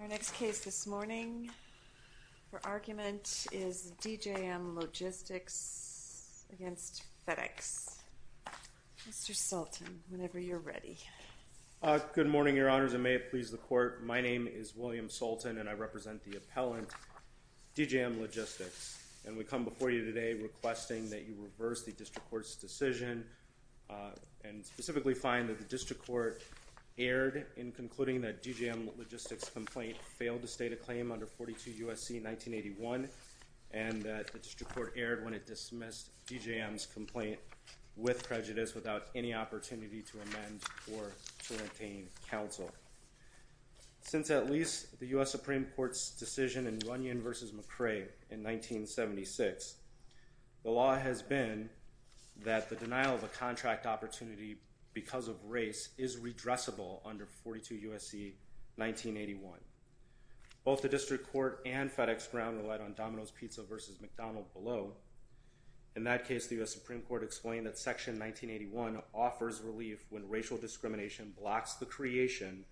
Our next case this morning for argument is DJM Logistics against FedEx. Mr. Sultan, whenever you're ready. Good morning, Your Honors, and may it please the Court. My name is William Sultan and I represent the appellant DJM Logistics and we come before you today requesting that you reverse the district court's decision and specifically find that the district court erred in concluding that DJM Logistics' complaint failed to state a claim under 42 U.S.C. 1981 and that the district court erred when it dismissed DJM's complaint with prejudice without any opportunity to amend or to obtain counsel. Since at least the U.S. Supreme Court's decision in Runyon v. McRae in 1976, the law has been that the denial of a contract opportunity because of race is redressable under 42 U.S.C. 1981. Both the district court and FedEx Ground relied on Domino's Pizza v. McDonald below. In that case, the U.S. Supreme Court explained that section 1981 offers relief when racial discrimination blocks the creation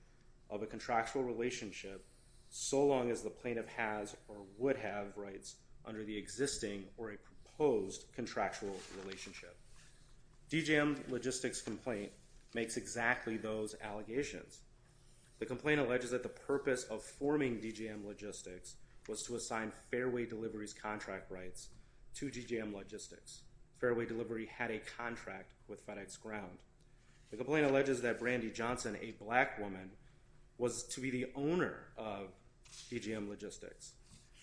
of a contractual relationship so long as the plaintiff has or would have rights under the existing or a proposed contractual relationship. DJM Logistics' complaint makes exactly those allegations. The complaint alleges that the purpose of forming DJM Logistics was to assign Fairway Delivery's contract rights to DJM Logistics. Fairway Delivery had a contract with FedEx Ground. The complaint alleges that Brandi Johnson, a black woman, was to be the owner of DJM Logistics.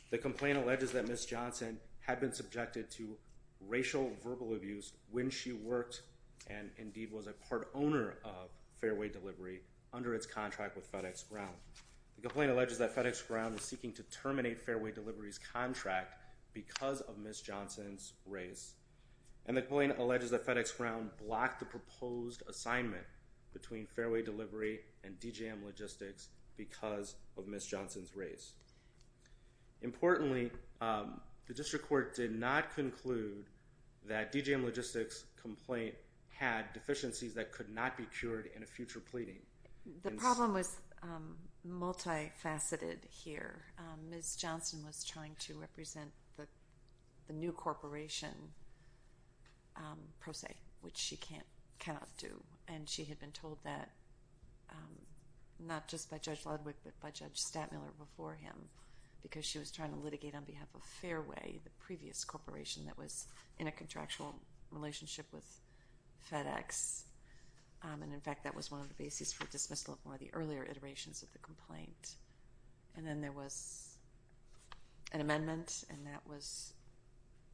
The complaint alleges that Ms. Johnson had been subjected to racial verbal abuse when she worked and indeed was a part owner of Fairway Delivery under its contract with FedEx Ground. The complaint alleges that FedEx Ground was seeking to terminate Fairway Delivery's contract because of Ms. Johnson's race. And the complaint alleges that FedEx Ground blocked the proposed assignment between Fairway Delivery and DJM Logistics because of Ms. Johnson's race. Importantly, the district court did not conclude that DJM Logistics' complaint had deficiencies that could not be cured in a future pleading. The problem was multi-faceted here. Ms. Johnson was trying to represent the new corporation pro se, which she cannot do, and she had been told that not just by Judge because she was trying to litigate on behalf of Fairway, the previous corporation that was in a contractual relationship with FedEx, and in fact that was one of the basis for dismissal of more of the earlier iterations of the complaint. And then there was an amendment and that was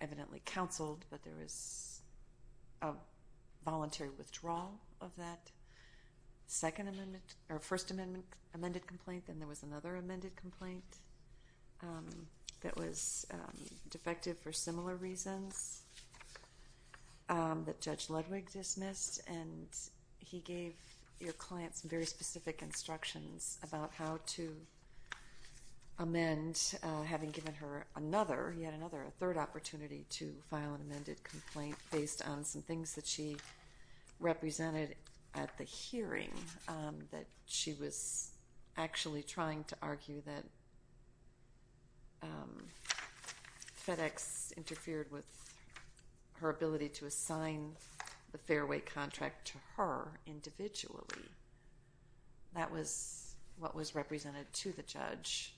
evidently counseled, but there was a voluntary withdrawal of that second amendment, or there was another amended complaint that was defective for similar reasons that Judge Ludwig dismissed, and he gave your client some very specific instructions about how to amend, having given her another, yet another, a third opportunity to file an amended complaint based on some things that she to argue that FedEx interfered with her ability to assign the Fairway contract to her individually. That was what was represented to the judge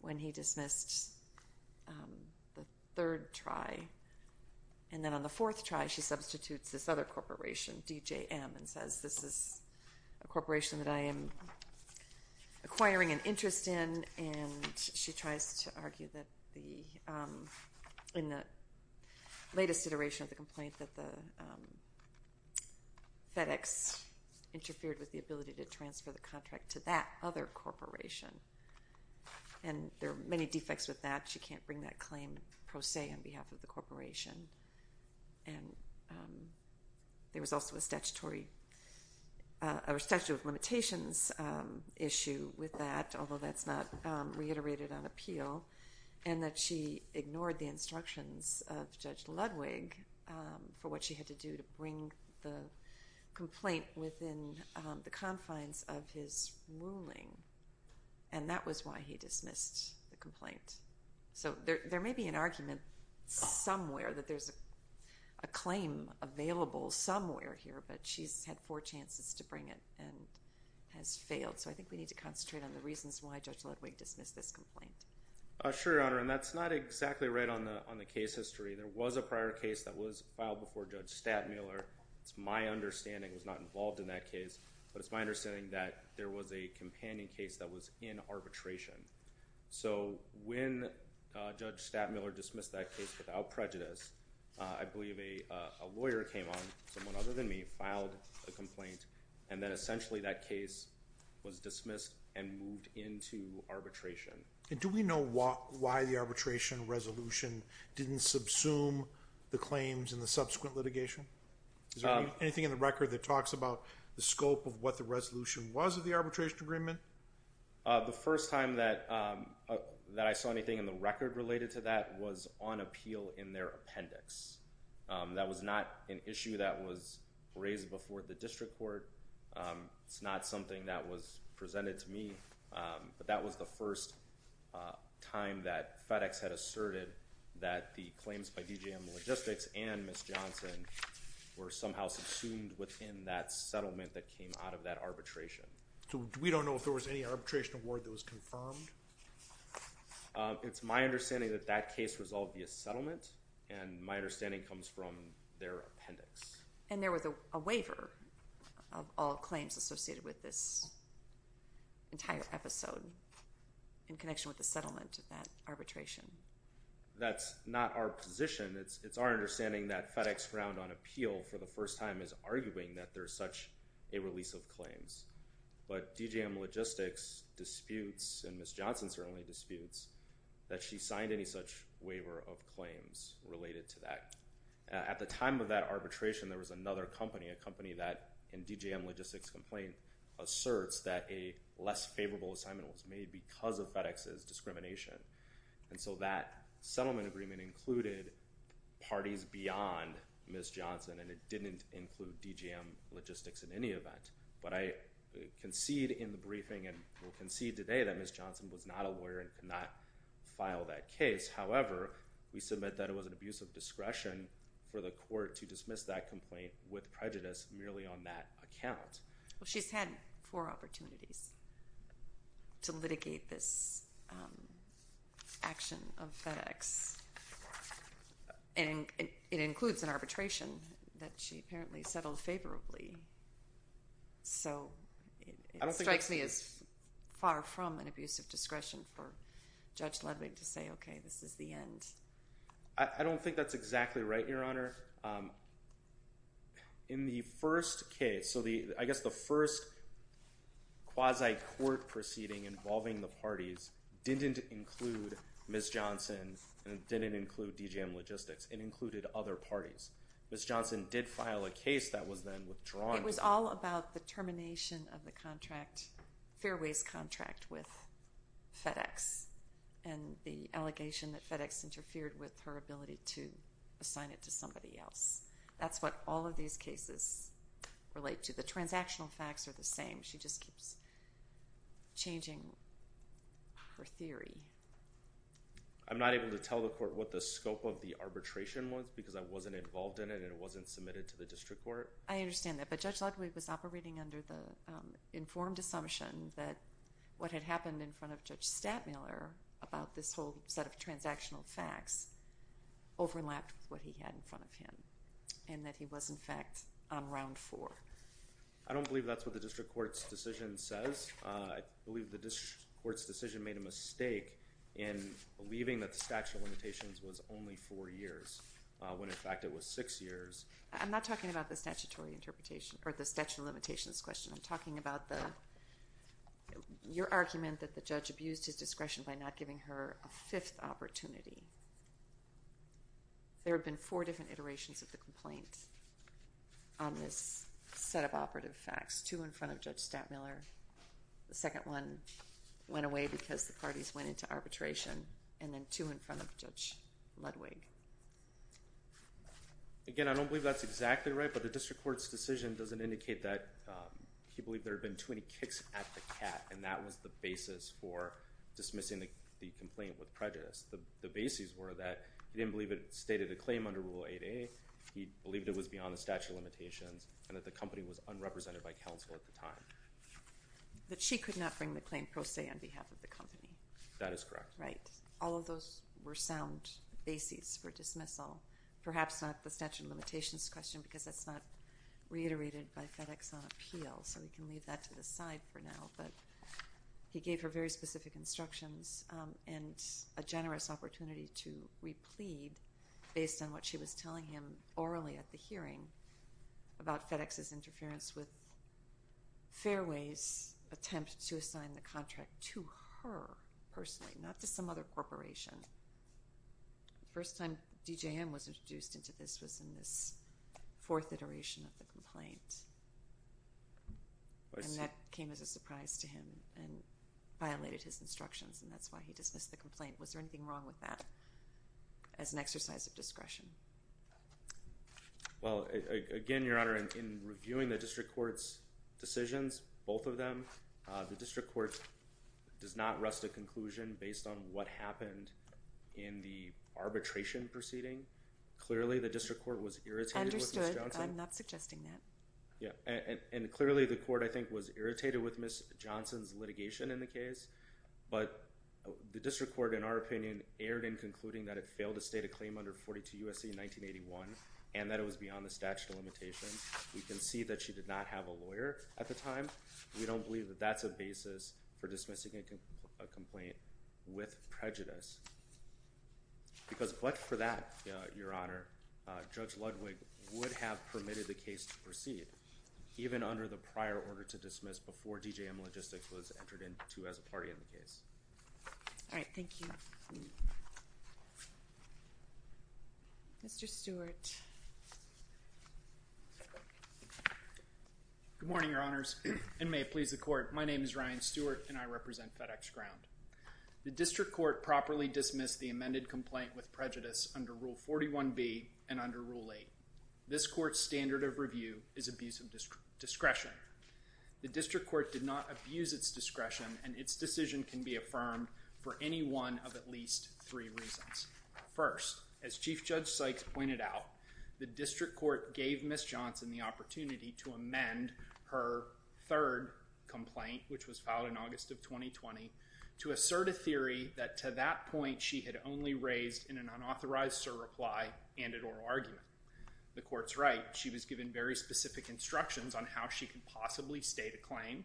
when he dismissed the third try, and then on the fourth try she substitutes this other corporation that I am acquiring an interest in, and she tries to argue that in the latest iteration of the complaint that the FedEx interfered with the ability to transfer the contract to that other corporation, and there are many defects with that. She can't bring that claim pro se on behalf of the limitations issue with that, although that's not reiterated on appeal, and that she ignored the instructions of Judge Ludwig for what she had to do to bring the complaint within the confines of his ruling, and that was why he dismissed the complaint. So there may be an argument somewhere that there's a claim available somewhere here, but she's had four chances to bring it and has failed, so I think we need to concentrate on the reasons why Judge Ludwig dismissed this complaint. Sure, Your Honor, and that's not exactly right on the on the case history. There was a prior case that was filed before Judge Stattmiller. It's my understanding it was not involved in that case, but it's my understanding that there was a companion case that was in arbitration. So when Judge Stattmiller dismissed that case without prejudice, I believe a lawyer came on, someone other than me, filed a complaint, and then essentially that case was dismissed and moved into arbitration. And do we know why the arbitration resolution didn't subsume the claims in the subsequent litigation? Is there anything in the record that talks about the scope of what the resolution was of the arbitration agreement? The first time that I saw anything in the record related to that was on appeal in their appendix. That was not an issue that was raised before the district court. It's not something that was presented to me, but that was the first time that FedEx had asserted that the claims by DJM Logistics and Ms. Johnson were somehow subsumed within that settlement that came out of that arbitration. So we don't know if there was any arbitration award that was resolved via settlement, and my understanding comes from their appendix. And there was a waiver of all claims associated with this entire episode in connection with the settlement of that arbitration. That's not our position. It's it's our understanding that FedEx found on appeal for the first time is arguing that there's such a release of claims. But DJM Logistics disputes, and Ms. Johnson did not file such waiver of claims related to that. At the time of that arbitration there was another company, a company that in DJM Logistics complaint asserts that a less favorable assignment was made because of FedEx's discrimination. And so that settlement agreement included parties beyond Ms. Johnson, and it didn't include DJM Logistics in any event. But I concede in the briefing and will concede today that Ms. Johnson was not a lawyer and could not file that case. However, we submit that it was an abuse of discretion for the court to dismiss that complaint with prejudice merely on that account. She's had four opportunities to litigate this action of FedEx, and it includes an arbitration that she apparently settled favorably. So it strikes me as far from an abuse of discretion for Judge Ludwig to say, okay, this is the end. I don't think that's exactly right, Your Honor. In the first case, so the, I guess the first quasi-court proceeding involving the parties didn't include Ms. Johnson and didn't include DJM Logistics. It included other parties. Ms. Johnson did file a case that was then withdrawn. It was all about the termination of the contract, Fairway's contract, with FedEx and the allegation that FedEx interfered with her ability to assign it to somebody else. That's what all of these cases relate to. The transactional facts are the same. She just keeps changing her theory. I'm not able to tell the court what the scope of the arbitration was because I wasn't involved in it and it wasn't submitted to the district court. I have the assumption that what had happened in front of Judge Stadtmiller about this whole set of transactional facts overlapped with what he had in front of him and that he was in fact on round four. I don't believe that's what the district court's decision says. I believe the district court's decision made a mistake in believing that the statute of limitations was only four years when in fact it was six years. I'm not talking about the statutory interpretation or the statute of limitations question. I'm talking about your argument that the judge abused his discretion by not giving her a fifth opportunity. There have been four different iterations of the complaint on this set of operative facts. Two in front of Judge Stadtmiller, the second one went away because the parties went into arbitration, and then two in front of Judge Ludwig. Again, I don't believe that's exactly right, but the district court's decision doesn't indicate that he believed there had been too many kicks at the cat, and that was the basis for dismissing the complaint with prejudice. The bases were that he didn't believe it stated a claim under Rule 8a, he believed it was beyond the statute of limitations, and that the company was unrepresented by counsel at the time. That she could not bring the claim pro se on behalf of the company. That is correct. Right. All of those were sound bases for dismissal, perhaps not the statute of limitations question because that's not reiterated by FedEx on appeal, so we can leave that to the side for now, but he gave her very specific instructions and a generous opportunity to replead based on what she was telling him orally at the hearing about FedEx's interference with Fairway's attempt to assign the contract to her personally, not to some other corporation. The first time DJM was introduced into this was in this fourth iteration of the complaint, and that came as a surprise to him and violated his instructions, and that's why he dismissed the complaint. Was there anything wrong with that as an exercise of discretion? Well, again, Your Honor, in reviewing the district court's decisions, both of them, the district court does not rest a conclusion based on what happened in the arbitration proceeding. Clearly the district court was irritated. Understood. I'm not suggesting that. Yeah, and clearly the court, I think, was irritated with Ms. Johnson's litigation in the case, but the district court, in our opinion, erred in concluding that it failed to state a claim under 42 U.S.C. 1981 and that it was beyond the statute of limitations. We can see that she did not have a lawyer at the time. We don't believe that that's a basis for dismissing a complaint with prejudice because, but for that, Your Honor, Judge Ludwig would have permitted the case to proceed even under the prior order to dismiss before DJM Logistics was entered into as a party in the case. All right, thank you. Mr. Stewart. Good morning, Your Honors, and may it please the court, my name is Ryan Stewart and I represent FedEx Ground. The district court properly dismissed the amended complaint with prejudice under Rule 41B and under Rule 8. This court's standard of review is abuse of discretion. The district court did not abuse its discretion and its decision can be affirmed for any one of at least three reasons. First, as Chief Judge Sykes pointed out, the district court gave Ms. Johnson the opportunity to amend her third complaint, which was filed in August of 2020, to assert a theory that to that point she had only raised in an unauthorized sir reply and an oral argument. The court's right. She was given very specific instructions on how she could possibly state a claim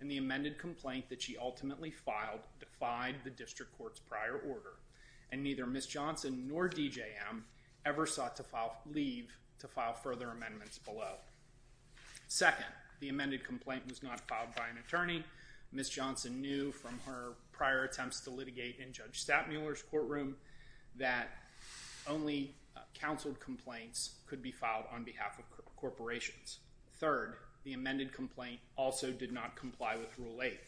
and the amended complaint that she ultimately filed defied the district court's prior order and neither Ms. Johnson nor DJM ever sought to leave to file further amendments below. Second, the amended complaint was not filed by an attorney. Ms. Johnson knew from her prior attempts to litigate in Judge Stapmuller's courtroom that only counseled complaints could be filed on behalf of corporations. Third, the amended complaint also did not comply with Rule 8.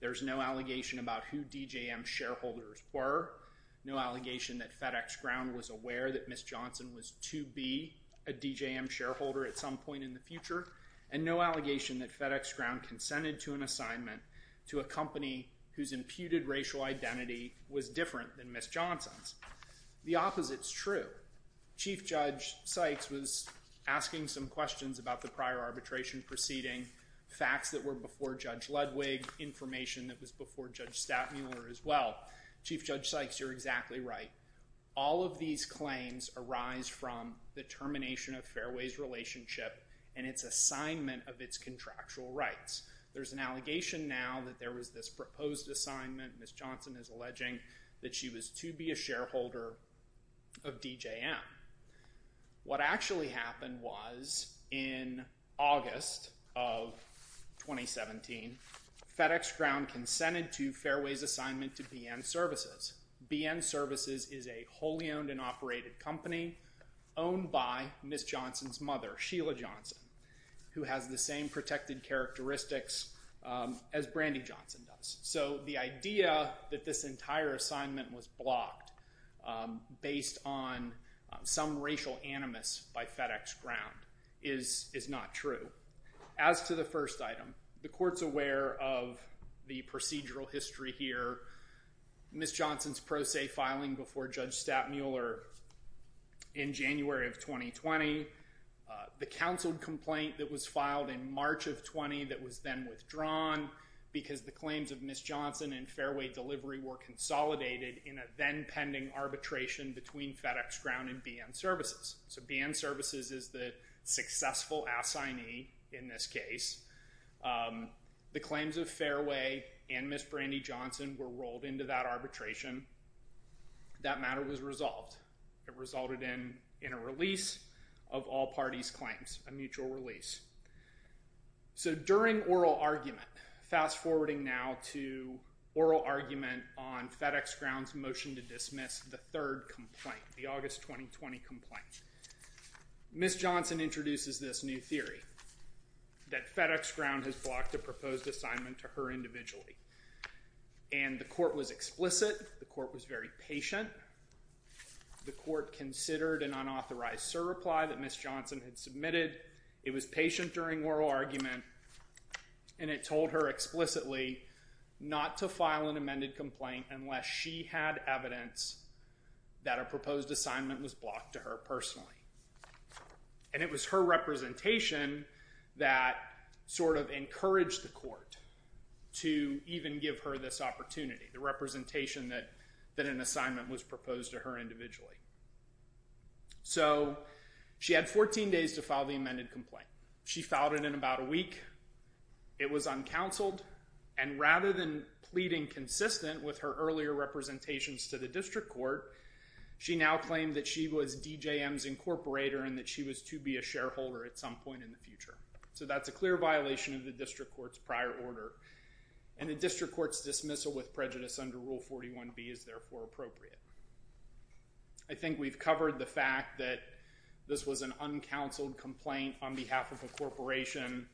There's no allegation about who DJM shareholders were, no allegation that FedEx Ground was aware that Ms. Johnson was to be a DJM shareholder at some point in the future, and no allegation that FedEx Ground consented to an assignment to a company whose imputed racial identity was different than Ms. Johnson's. The opposite is true. Chief Judge Sykes was asking some questions about the prior arbitration proceeding, facts that were before Judge Ludwig, information that was before Judge Stapmuller as well. Chief Judge Sykes, you're exactly right. All of these claims arise from the termination of Fairway's relationship and its assignment of its contractual rights. There's an allegation now that there was this proposed assignment, Ms. Johnson is alleging, that she was to be a shareholder of DJM. What actually happened was in August of 2017, FedEx Ground consented to Fairway's assignment to BN Services. BN Services is a wholly owned and operated company owned by Ms. Johnson's mother, Sheila Johnson, who has the same protected characteristics as Brandy Johnson does. So the idea that this entire assignment was blocked based on some racial animus by FedEx Ground is not true. As to the first item, the court's aware of the procedural history here. Ms. Johnson's relationship with Judge Stapmuller in January of 2020, the counseled complaint that was filed in March of 20 that was then withdrawn because the claims of Ms. Johnson and Fairway delivery were consolidated in a then pending arbitration between FedEx Ground and BN Services. So BN Services is the successful assignee in this case. The claims of Fairway and Ms. Brandy Johnson were rolled into that arbitration. That matter was resolved. It resulted in a release of all parties' claims, a mutual release. So during oral argument, fast forwarding now to oral argument on FedEx Ground's motion to dismiss the third complaint, the August 2020 complaint, Ms. Johnson introduces this new theory that and the court was explicit. The court was very patient. The court considered an unauthorized surreply that Ms. Johnson had submitted. It was patient during oral argument and it told her explicitly not to file an amended complaint unless she had evidence that a proposed assignment was blocked to her personally. And it was her representation that sort of encouraged the court to even give her this opportunity, the representation that an assignment was proposed to her individually. So she had 14 days to file the amended complaint. She filed it in about a week. It was uncounseled and rather than pleading consistent with her earlier representations to the district court, she now claimed that she was DJM's incorporator and that she was to be a shareholder at some point in the future. So that's a clear violation of the district court's prior order and the dismissal with prejudice under Rule 41B is therefore appropriate. I think we've covered the fact that this was an uncounseled complaint on behalf of a corporation.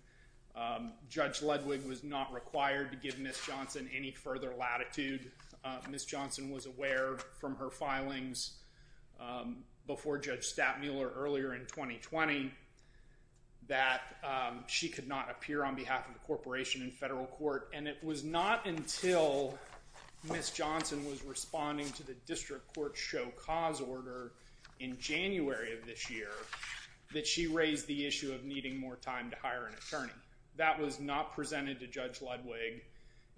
Judge Ludwig was not required to give Ms. Johnson any further latitude. Ms. Johnson was aware from her filings before Judge Stapmuller earlier in 2020 that she could not appear on behalf of the corporation in federal court and it was not until Ms. Johnson was responding to the district court show cause order in January of this year that she raised the issue of needing more time to hire an attorney. That was not presented to Judge Ludwig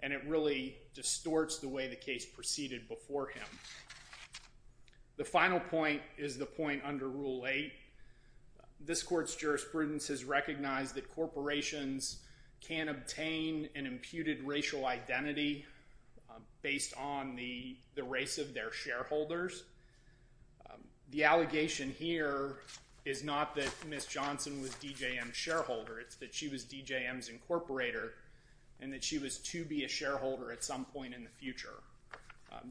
and it really distorts the way the case proceeded before him. The final point is the point under Rule 8. This court's jurisprudence has recognized that individuals have an imputed racial identity based on the the race of their shareholders. The allegation here is not that Ms. Johnson was DJM's shareholder, it's that she was DJM's incorporator and that she was to be a shareholder at some point in the future.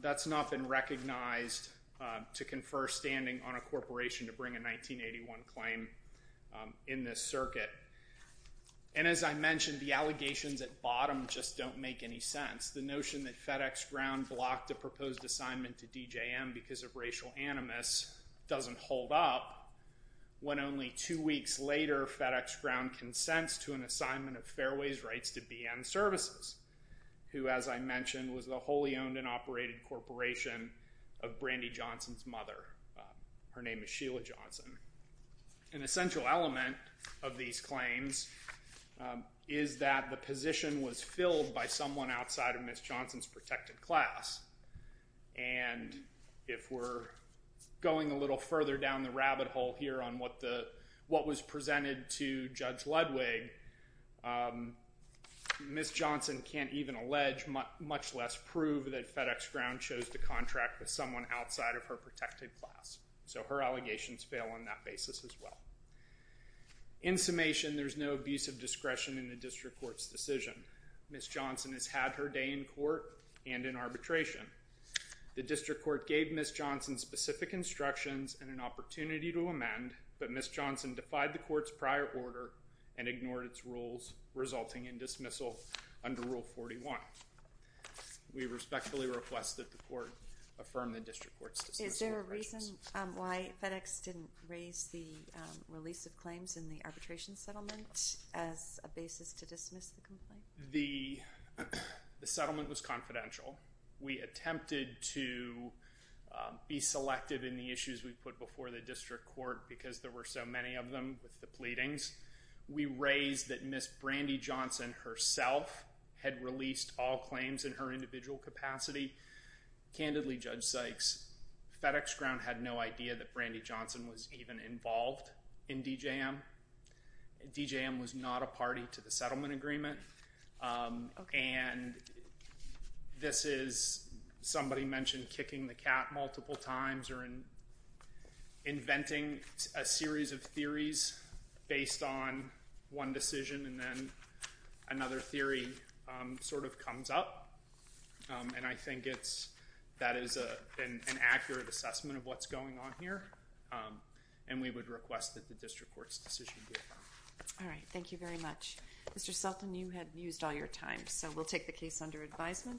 That's not been recognized to confer standing on a corporation to bring a 1981 claim in this circuit. And as I mentioned, the allegations at bottom just don't make any sense. The notion that FedEx Ground blocked a proposed assignment to DJM because of racial animus doesn't hold up when only two weeks later FedEx Ground consents to an assignment of Fairway's rights to BN services, who as I mentioned was the wholly owned and operated corporation of Brandi Johnson's mother. Her name is Sheila Johnson. An essential element of these claims is that the position was filled by someone outside of Ms. Johnson's protected class. And if we're going a little further down the rabbit hole here on what was presented to Judge Ludwig, Ms. Johnson can't even allege, much less prove, that FedEx Ground chose to contract with someone outside of her protected class. So her allegations fail on that basis as well. In summation, there's no abuse of discretion in the district court's decision. Ms. Johnson has had her day in court and in arbitration. The district court gave Ms. Johnson specific instructions and an opportunity to amend, but Ms. Johnson defied the court's prior order and ignored its rules resulting in dismissal under Rule 41. We respectfully request that the court affirm the release of claims in the arbitration settlement as a basis to dismiss the complaint. The settlement was confidential. We attempted to be selective in the issues we put before the district court because there were so many of them with the pleadings. We raised that Ms. Brandi Johnson herself had released all claims in her individual capacity. Candidly, Judge Sykes, FedEx Ground had no idea that Brandi Johnson was even involved in DJM. DJM was not a party to the settlement agreement and this is, somebody mentioned kicking the cat multiple times or in inventing a series of theories based on one decision and then another theory sort of comes up and I think it's, that is an accurate assessment of what's going on here and we would request that the district court's decision be affirmed. All right, thank you very much. Mr. Sultan, you had used all your time so we'll take the case under advisement.